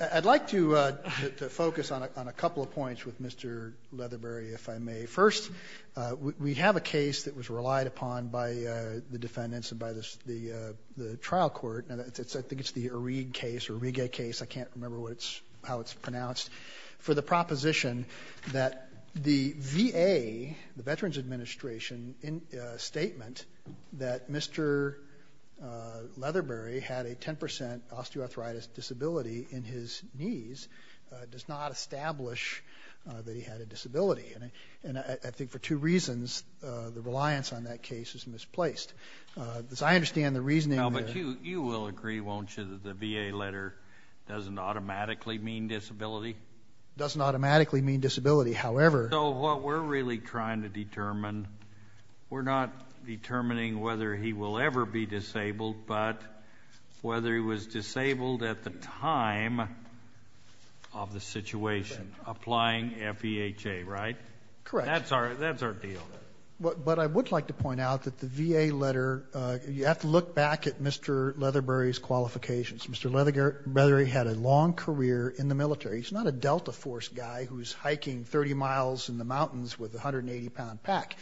I'd like to focus on a couple of points with Mr. Leatherbury, if I may. First, we have a case that was relied upon by the defendants and by the trial court, and I think it's the Arige case, I can't remember how it's pronounced, for the proposition that the VA, the Veterans Administration, in a statement that Mr. Leatherbury had a 10% osteoarthritis disability in his knees does not establish that he had a disability. And I think for two reasons, the reliance on that case is misplaced. As I understand the reasoning that the VA letter doesn't automatically mean disability. It doesn't automatically mean disability. So what we're really trying to determine, we're not determining whether he will ever be disabled, but whether he was disabled at the time of the situation, applying FEHA, right? Correct. That's our deal. But I would like to point out that the VA letter, you have to look back at Mr. Leatherbury's qualifications. Mr. Leatherbury had a long career in the military. He's not a Delta Force guy who's hiking 30 miles in the mountains with a 180-pound pack.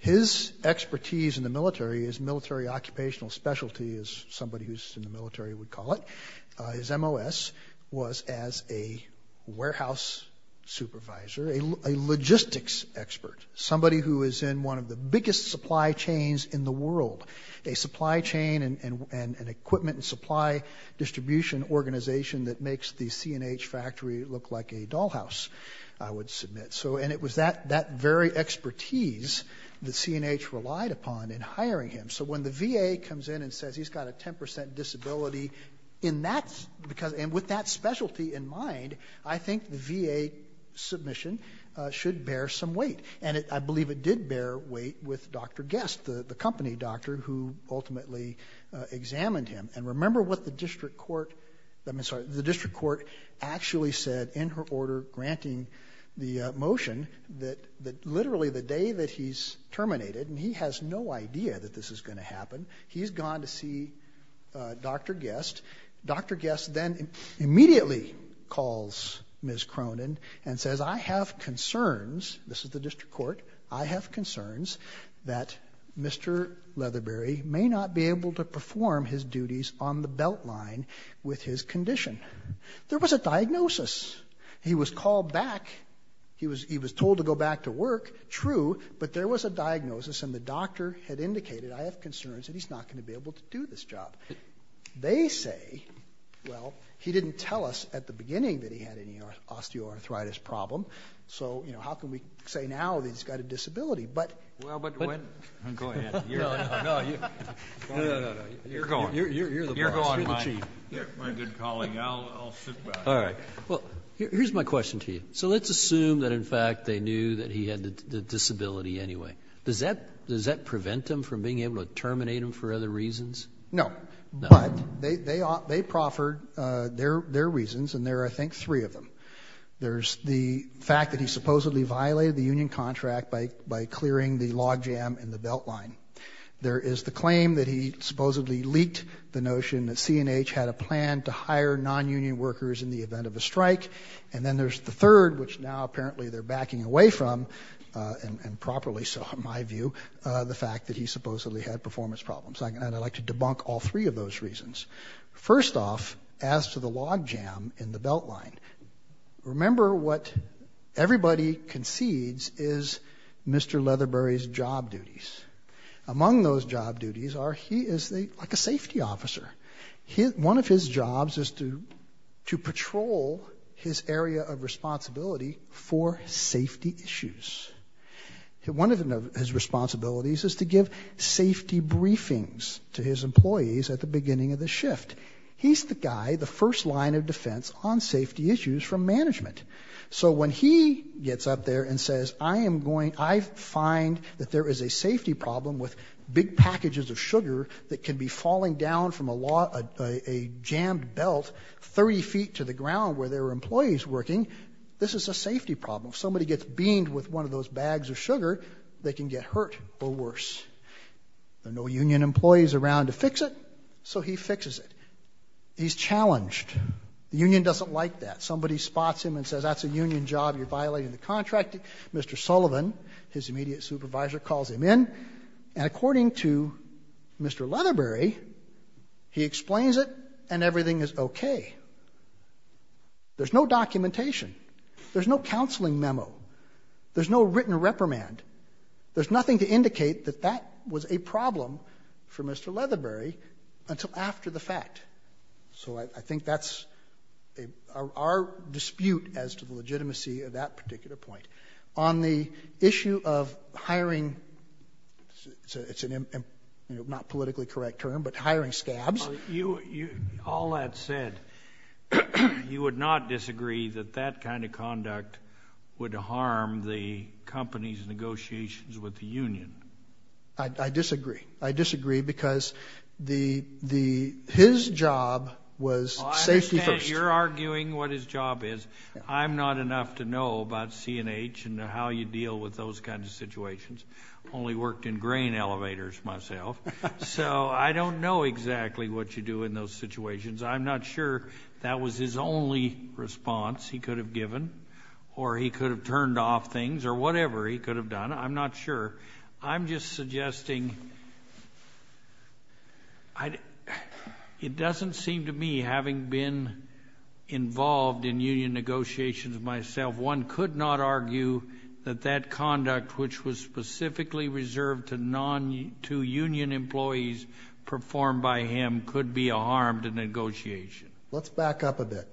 His expertise in the military, his military occupational specialty, as somebody who's in the military would call it, his MOS was as a warehouse supervisor, a logistics expert, somebody who is in one of the biggest supply chains in the world, a supply chain and equipment and supply distribution organization that makes the C&H factory look like a dollhouse, I would submit. And it was that very expertise that C&H relied upon in hiring him. So when the VA comes in and says he's got a 10% disability, and with that specialty in mind, I think the VA submission should bear some weight. And I believe it did bear weight with Dr. Guest, the company doctor, who ultimately examined him. And remember what the district court actually said in her order granting the motion, that literally the day that he's terminated, and he has no idea that this is going to happen, he's gone to see Dr. Guest. Dr. Guest then immediately calls Ms. Cronin and says, I have concerns, this is the district court, I have concerns that Mr. Leatherberry may not be able to perform his duties on the beltline with his condition. There was a diagnosis. He was called back, he was told to go back to work, true, but there was a diagnosis and the doctor had indicated, I have concerns that he's not going to be able to do this job. They say, well, he didn't tell us at the beginning that he had any osteoarthritis problem, so how can we say now that he's got a disability. Well, go ahead. You're going. You're the boss, you're the chief. My good colleague, I'll sit back. All right. Well, here's my question to you. So let's assume that, in fact, they knew that he had the disability anyway. Does that prevent him from being able to terminate him for other reasons? No. No. But they proffered their reasons, and there are, I think, three of them. There's the fact that he supposedly violated the union contract by clearing the log jam in the beltline. There is the claim that he supposedly leaked the notion that C&H had a plan to hire nonunion workers in the event of a strike. And then there's the third, which now apparently they're backing away from, and properly so in my view, the fact that he supposedly had performance problems. And I'd like to debunk all three of those reasons. First off, as to the log jam in the beltline, remember what everybody concedes is Mr. Leatherbury's job duties. Among those job duties are he is like a safety officer. One of his jobs is to patrol his area of responsibility for safety issues. One of his responsibilities is to give safety briefings to his employees at the beginning of the shift. He's the guy, the first line of defense on safety issues from management. So when he gets up there and says, I find that there is a safety problem with big packages of sugar that can be falling down from a jammed belt 30 feet to the ground where there are employees working, this is a safety problem. If somebody gets beamed with one of those bags of sugar, they can get hurt or worse. There are no union employees around to fix it, so he fixes it. He's challenged. The union doesn't like that. Somebody spots him and says, that's a union job. You're violating the contract. Mr. Sullivan, his immediate supervisor, calls him in, and according to Mr. Leatherbury, he explains it and everything is okay. There's no documentation. There's no counseling memo. There's no written reprimand. There's nothing to indicate that that was a problem for Mr. Leatherbury until after the fact. So I think that's our dispute as to the legitimacy of that particular point. On the issue of hiring, it's not a politically correct term, but hiring scabs. All that said, you would not disagree that that kind of conduct would harm the company's negotiations with the union. I disagree. I disagree because his job was safety first. I understand you're arguing what his job is. I'm not enough to know about C&H and how you deal with those kinds of situations. I've only worked in grain elevators myself. So I don't know exactly what you do in those situations. I'm not sure that was his only response he could have given or he could have turned off things or whatever he could have done. I'm not sure. I'm just suggesting it doesn't seem to me, having been involved in union negotiations myself, one could not argue that that conduct, which was specifically reserved to union employees performed by him, could be a harm to negotiation. Let's back up a bit.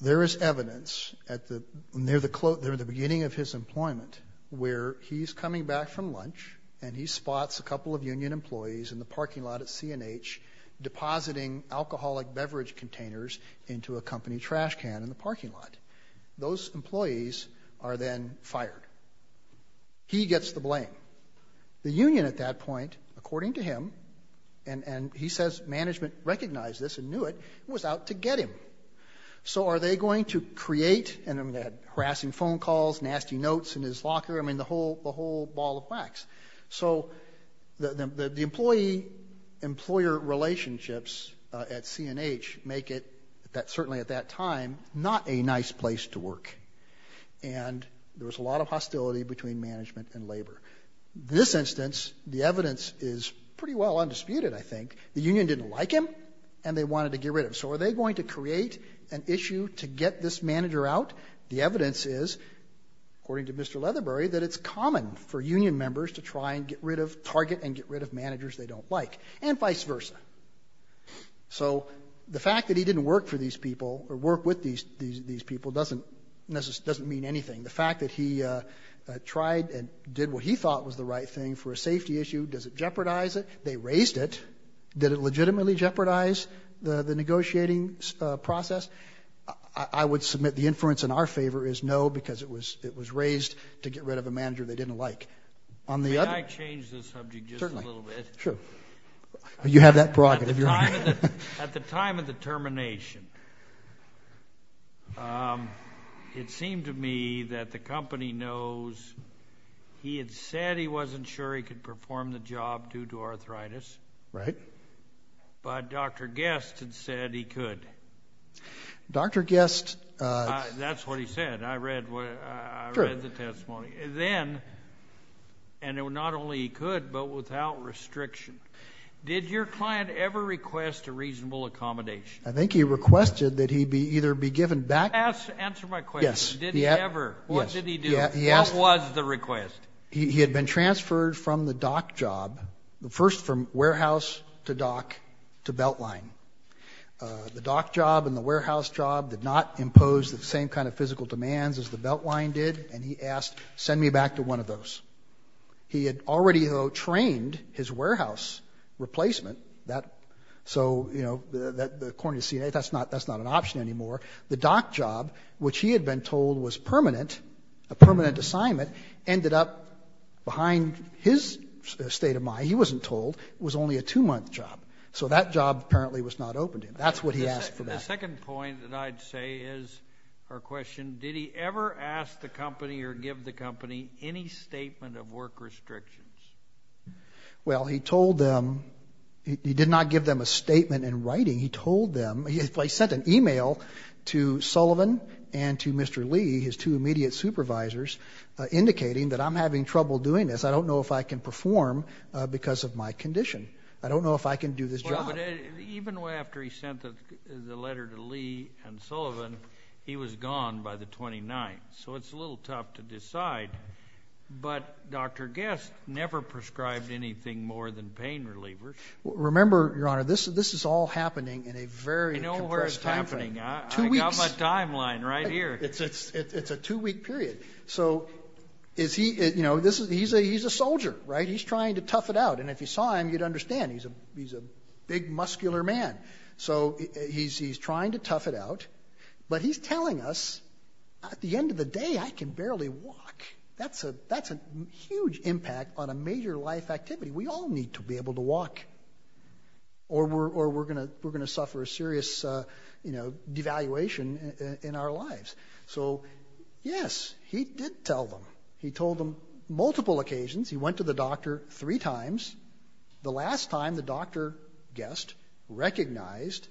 There is evidence near the beginning of his employment where he's coming back from lunch and he spots a couple of union employees in the parking lot at C&H depositing alcoholic beverage containers into a company trash can in the parking lot. Those employees are then fired. He gets the blame. The union at that point, according to him, and he says management recognized this and knew it, was out to get him. So are they going to create harassing phone calls, nasty notes in his locker, I mean the whole ball of wax. So the employee-employer relationships at C&H make it, certainly at that time, not a nice place to work. And there was a lot of hostility between management and labor. This instance, the evidence is pretty well undisputed, I think. The union didn't like him and they wanted to get rid of him. So are they going to create an issue to get this manager out? The evidence is, according to Mr. Leatherbury, that it's common for union members to try and get rid of, target and get rid of managers they don't like, and vice versa. So the fact that he didn't work for these people or work with these people doesn't mean anything. The fact that he tried and did what he thought was the right thing for a safety issue, does it jeopardize it? They raised it. Did it legitimately jeopardize the negotiating process? I would submit the inference in our favor is no, because it was raised to get rid of a manager they didn't like. May I change the subject just a little bit? Certainly. Sure. You have that prerogative, Your Honor. At the time of the termination, it seemed to me that the company knows he had said he wasn't sure he could perform the job due to arthritis. Right. But Dr. Guest had said he could. Dr. Guest. That's what he said. I read the testimony. Then, and not only he could but without restriction, did your client ever request a reasonable accommodation? I think he requested that he either be given back. Answer my question. Yes. Did he ever? Yes. What did he do? What was the request? He had been transferred from the dock job, first from warehouse to dock, to Beltline. The dock job and the warehouse job did not impose the same kind of physical demands as the Beltline did, and he asked, send me back to one of those. He had already, though, trained his warehouse replacement. So, you know, according to CNA, that's not an option anymore. The dock job, which he had been told was permanent, a permanent assignment, ended up behind his state of mind. He wasn't told. It was only a two-month job. So that job apparently was not open to him. That's what he asked for back. The second point that I'd say is our question, did he ever ask the company or give the company any statement of work restrictions? Well, he told them. He did not give them a statement in writing. He told them. He sent an email to Sullivan and to Mr. Lee, his two immediate supervisors, indicating that I'm having trouble doing this. I don't know if I can perform because of my condition. I don't know if I can do this job. But even after he sent the letter to Lee and Sullivan, he was gone by the 29th. So it's a little tough to decide. But Dr. Guest never prescribed anything more than pain relievers. Remember, Your Honor, this is all happening in a very compressed timeframe. I know where it's happening. I got my timeline right here. It's a two-week period. So he's a soldier, right? He's trying to tough it out. And if you saw him, you'd understand. He's a big, muscular man. So he's trying to tough it out. But he's telling us, at the end of the day, I can barely walk. That's a huge impact on a major life activity. We all need to be able to walk. Or we're going to suffer a serious devaluation in our lives. So, yes, he did tell them. He told them multiple occasions. He went to the doctor three times. The last time, the Dr. Guest recognized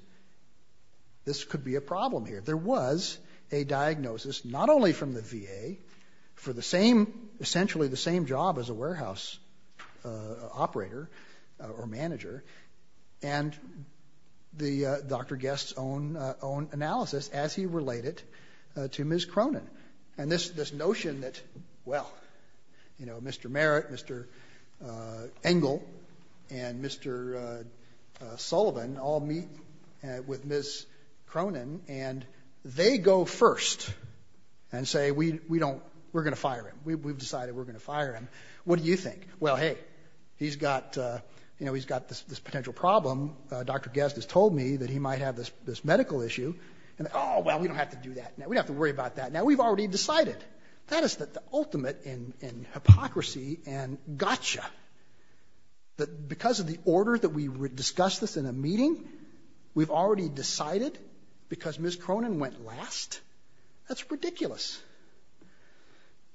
this could be a problem here. There was a diagnosis, not only from the VA, for essentially the same job as a warehouse operator or manager, and Dr. Guest's own analysis as he related to Ms. Cronin. And this notion that, well, Mr. Merritt, Mr. Engel, and Mr. Sullivan all meet with Ms. Cronin, and they go first and say, we're going to fire him. We've decided we're going to fire him. What do you think? Well, hey, he's got this potential problem. Dr. Guest has told me that he might have this medical issue. Oh, well, we don't have to do that. Now, we've already decided. That is the ultimate in hypocrisy and gotcha, that because of the order that we discussed this in a meeting, we've already decided because Ms. Cronin went last? That's ridiculous.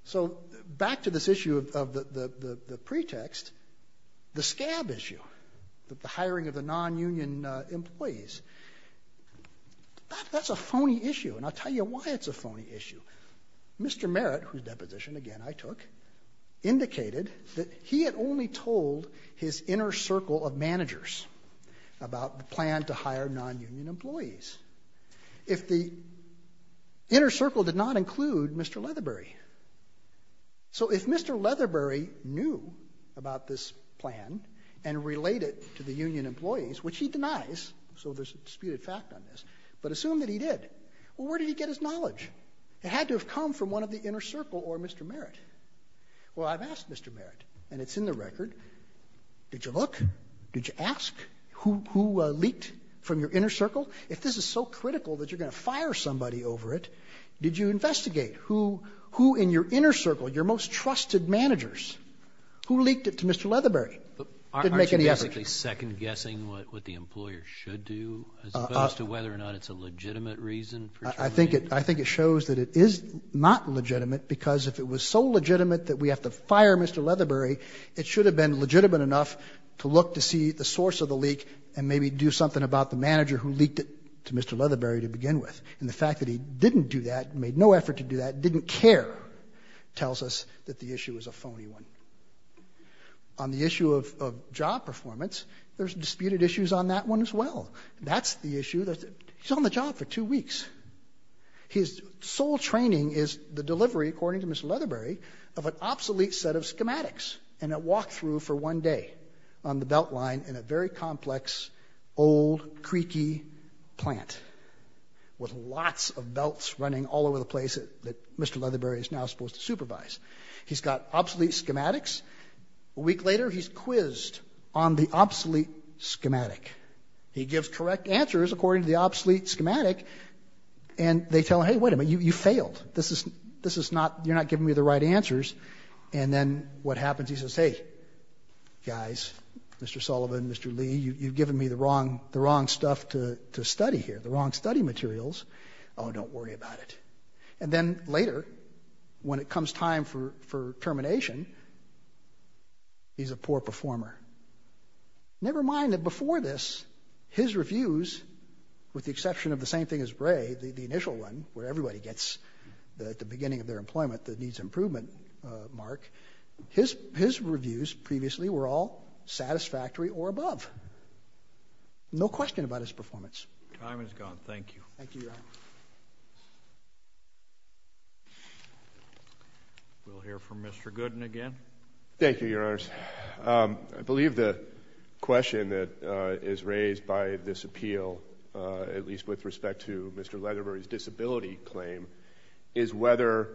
So back to this issue of the pretext, the scab issue, the hiring of the non-union employees, that's a phony issue, and I'll tell you why it's a phony issue. Mr. Merritt, whose deposition, again, I took, indicated that he had only told his inner circle of managers about the plan to hire non-union employees if the inner circle did not include Mr. Leatherbury. So if Mr. Leatherbury knew about this plan and related it to the union employees, which he denies, so there's a disputed fact on this, but assumed that he did, well, where did he get his knowledge? It had to have come from one of the inner circle or Mr. Merritt. Well, I've asked Mr. Merritt, and it's in the record. Did you look? Did you ask who leaked from your inner circle? If this is so critical that you're going to fire somebody over it, did you investigate who in your inner circle, your most trusted managers, who leaked it to Mr. Leatherbury? Didn't make any effort. Aren't you basically second-guessing what the employer should do as opposed to whether or not it's a legitimate reason? I think it shows that it is not legitimate because if it was so legitimate that we have to fire Mr. Leatherbury, it should have been legitimate enough to look to see the source of the leak and maybe do something about the manager who leaked it to Mr. Leatherbury to begin with. And the fact that he didn't do that, made no effort to do that, didn't care, tells us that the issue is a phony one. On the issue of job performance, there's disputed issues on that one as well. That's the issue. He's on the job for two weeks. His sole training is the delivery, according to Mr. Leatherbury, of an obsolete set of schematics and a walk-through for one day on the belt line in a very complex, old, creaky plant with lots of belts running all over the place that Mr. Leatherbury is now supposed to supervise. He's got obsolete schematics. A week later, he's quizzed on the obsolete schematic. He gives correct answers according to the obsolete schematic and they tell him, hey, wait a minute, you failed. You're not giving me the right answers. And then what happens, he says, hey, guys, Mr. Sullivan, Mr. Lee, you've given me the wrong stuff to study here, the wrong study materials. Oh, don't worry about it. And then later, when it comes time for termination, he's a poor performer. Never mind that before this, his reviews, with the exception of the same thing as Ray, the initial one, where everybody gets at the beginning of their employment the needs improvement mark, his reviews previously were all satisfactory or above. No question about his performance. Time is gone. Thank you. Thank you, Your Honor. We'll hear from Mr. Gooden again. Thank you, Your Honors. I believe the question that is raised by this appeal, at least with respect to Mr. Leatherbury's disability claim, is whether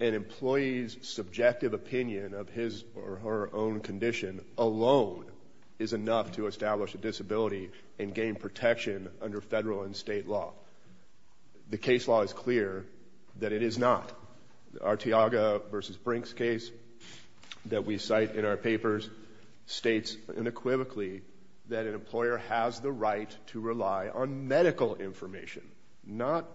an employee's subjective opinion of his or her own condition alone is enough to establish a disability and gain protection under federal and state law. The case law is clear that it is not. The Arteaga v. Brinks case that we cite in our papers states unequivocally that an employer has the right to rely on medical information, not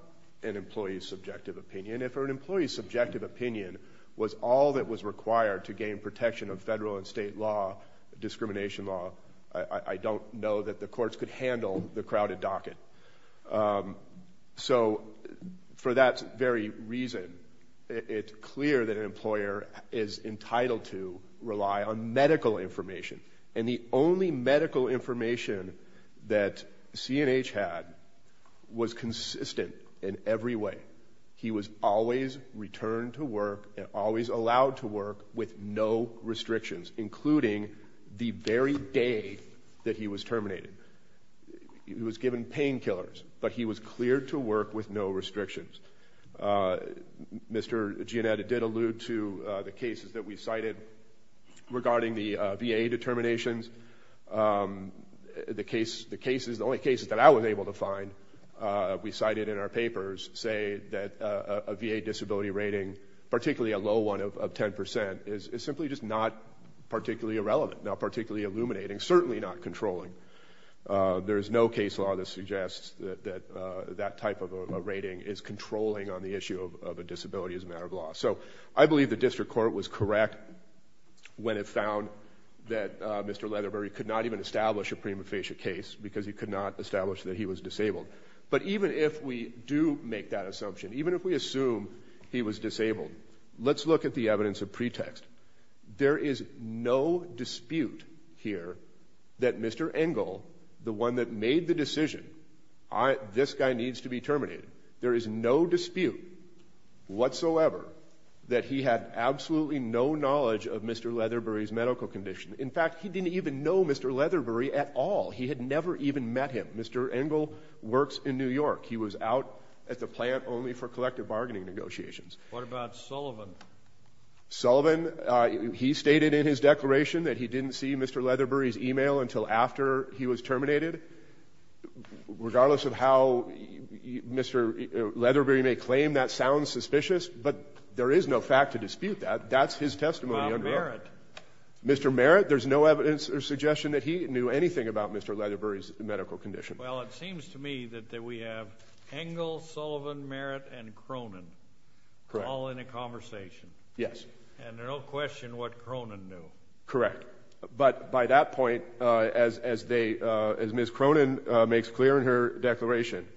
an employee's subjective opinion. If an employee's subjective opinion was all that was required to gain protection of federal and state law, discrimination law, I don't know that the courts could handle the crowded docket. So, for that very reason, it's clear that an employer is entitled to rely on medical information. And the only medical information that C&H had was consistent in every way. He was always returned to work and always allowed to work with no restrictions, including the very day that he was terminated. He was given painkillers, but he was cleared to work with no restrictions. Mr. Giannetti did allude to the cases that we cited regarding the VA determinations. The only cases that I was able to find, we cited in our papers, say that a VA disability rating, particularly a low one of 10%, is simply just not particularly irrelevant, not particularly illuminating, certainly not controlling. There is no case law that suggests that that type of a rating is controlling on the issue of a disability as a matter of law. So I believe the district court was correct when it found that Mr. Leatherbury could not even establish a prima facie case because he could not establish that he was disabled. But even if we do make that assumption, even if we assume he was disabled, let's look at the evidence of pretext. There is no dispute here that Mr. Engel, the one that made the decision, this guy needs to be terminated. There is no dispute whatsoever that he had absolutely no knowledge of Mr. Leatherbury's medical condition. In fact, he didn't even know Mr. Leatherbury at all. He had never even met him. Mr. Engel works in New York. He was out at the plant only for collective bargaining negotiations. What about Sullivan? Sullivan, he stated in his declaration that he didn't see Mr. Leatherbury's e-mail until after he was terminated. Regardless of how Mr. Leatherbury may claim, that sounds suspicious, but there is no fact to dispute that. That's his testimony. What about Merritt? Mr. Merritt, there's no evidence or suggestion that he knew anything about Mr. Leatherbury's medical condition. Well, it seems to me that we have Engel, Sullivan, Merritt, and Cronin all in a conversation. Yes. And there's no question what Cronin knew. Correct. But by that point, as Ms. Cronin makes clear in her declaration,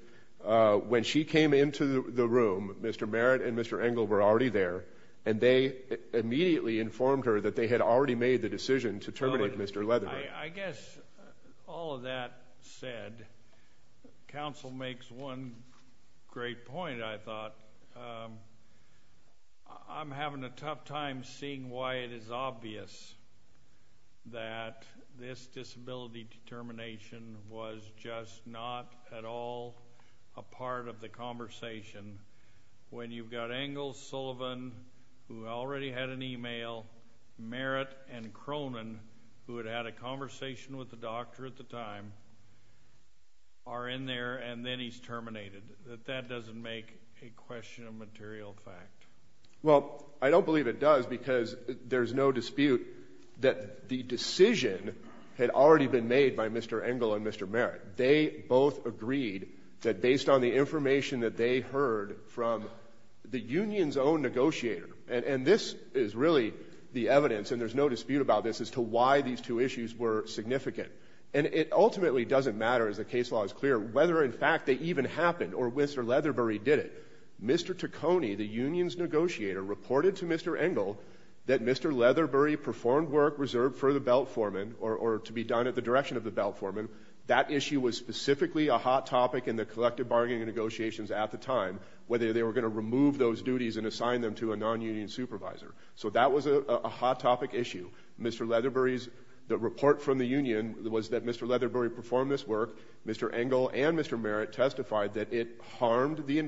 when she came into the room, Mr. Merritt and Mr. Engel were already there, and they immediately informed her that they had already made the decision to terminate Mr. Leatherbury. I guess all of that said, counsel makes one great point, I thought. I'm having a tough time seeing why it is obvious that this disability determination was just not at all a part of the conversation when you've got Engel, Sullivan, who already had an email, Merritt, and Cronin, who had had a conversation with the doctor at the time, are in there, and then he's terminated. That doesn't make a question of material fact. Well, I don't believe it does, because there's no dispute that the decision had already been made by Mr. Engel and Mr. Merritt. They both agreed that based on the information that they heard from the union's own negotiator, and this is really the evidence, and there's no dispute about this, as to why these two issues were significant. And it ultimately doesn't matter, as the case law is clear, whether in fact they even happened, or whether Mr. Leatherbury did it. Mr. Taccone, the union's negotiator, reported to Mr. Engel that Mr. Leatherbury performed work reserved for the belt foreman, or to be done at the direction of the belt foreman. That issue was specifically a hot topic in the collective bargaining negotiations at the time, whether they were going to remove those duties and assign them to a non-union supervisor. So that was a hot topic issue. Mr. Leatherbury's report from the union was that Mr. Leatherbury performed this work, Mr. Engel and Mr. Merritt testified that it harmed the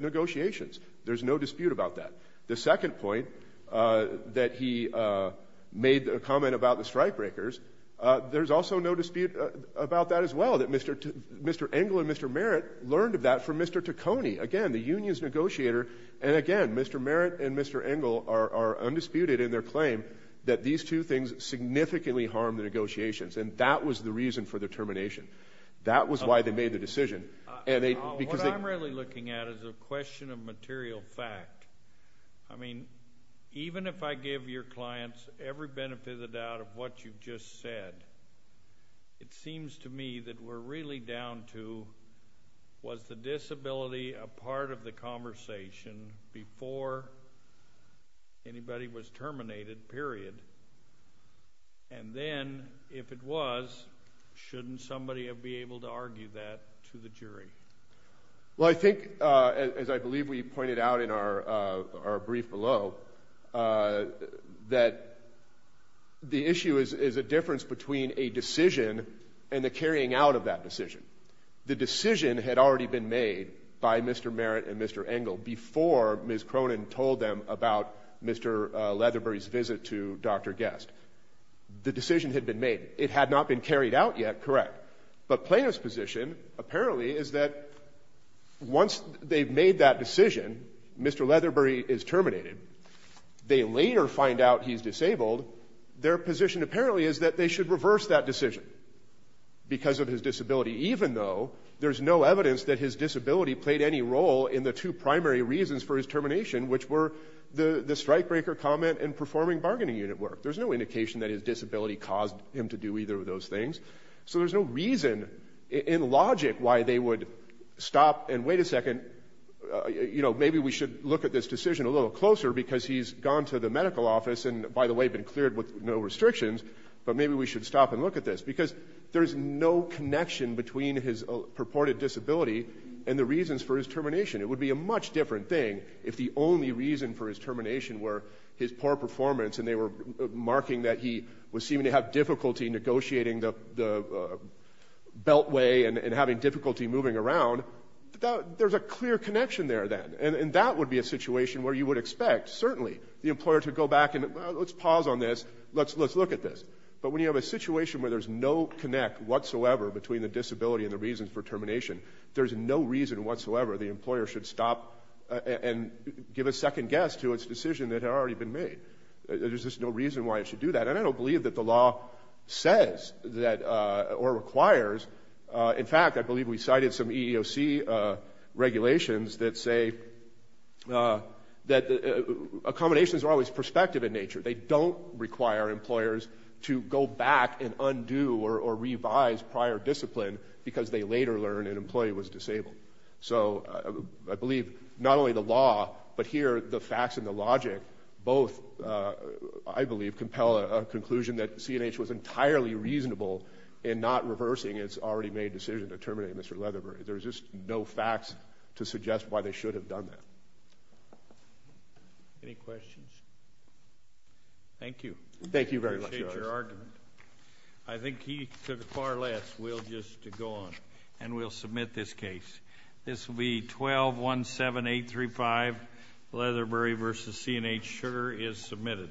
negotiations. There's no dispute about that. The second point, that he made a comment about the strikebreakers, there's also no dispute about that as well, that Mr. Engel and Mr. Merritt learned of that from Mr. Taccone, again, the union's negotiator, and again, Mr. Merritt and Mr. Engel are undisputed in their claim that these two things significantly harm the negotiations, and that was the reason for the termination. That was why they made the decision. What I'm really looking at is a question of material fact. I mean, even if I give your clients every benefit of the doubt of what you've just said, it seems to me that we're really down to, was the disability a part of the conversation before anybody was terminated, period? And then, if it was, shouldn't somebody be able to argue that to the jury? Well, I think, as I believe we pointed out in our brief below, that the issue is a difference between a decision and the carrying out of that decision. The decision had already been made by Mr. Merritt and Mr. Engel before Ms. Cronin told them about Mr. Leatherbury's visit to Dr. Guest. The decision had been made. It had not been carried out yet, correct. But Plano's position, apparently, is that once they've made that decision, Mr. Leatherbury is terminated, they later find out he's disabled, their position, apparently, is that they should reverse that decision because of his disability, even though there's no evidence that his disability played any role in the two primary reasons for his termination, which were the strikebreaker comment and performing bargaining unit work. There's no indication that his disability caused him to do either of those things. So there's no reason in logic why they would stop and wait a second, maybe we should look at this decision a little closer because he's gone to the medical office and, by the way, been cleared with no restrictions, but maybe we should stop and look at this because there's no connection between his purported disability and the reasons for his termination. It would be a much different thing if the only reason for his termination were his poor performance and they were marking that he was seeming to have difficulty negotiating the beltway and having difficulty moving around. There's a clear connection there, then, and that would be a situation where you would expect, certainly, the employer to go back and, well, let's pause on this, let's look at this. But when you have a situation where there's no connect whatsoever between the disability and the reasons for termination, there's no reason whatsoever the employer should stop and give a second guess to its decision that had already been made. There's just no reason why it should do that. And I don't believe that the law says that, or requires... In fact, I believe we cited some EEOC regulations that say that accommodations are always prospective in nature. They don't require employers to go back and undo or revise prior discipline because they later learn an employee was disabled. So I believe not only the law, but here the facts and the logic both, I believe, compel a conclusion that CNH was entirely reasonable in not reversing its already made decision to terminate Mr. Leatherbury. There's just no facts to suggest why they should have done that. Any questions? Thank you. Thank you very much, Judge. Appreciate your argument. I think he took far less. We'll just go on, and we'll submit this case. This will be 1217835, Leatherbury v. CNH, Sugar is submitted.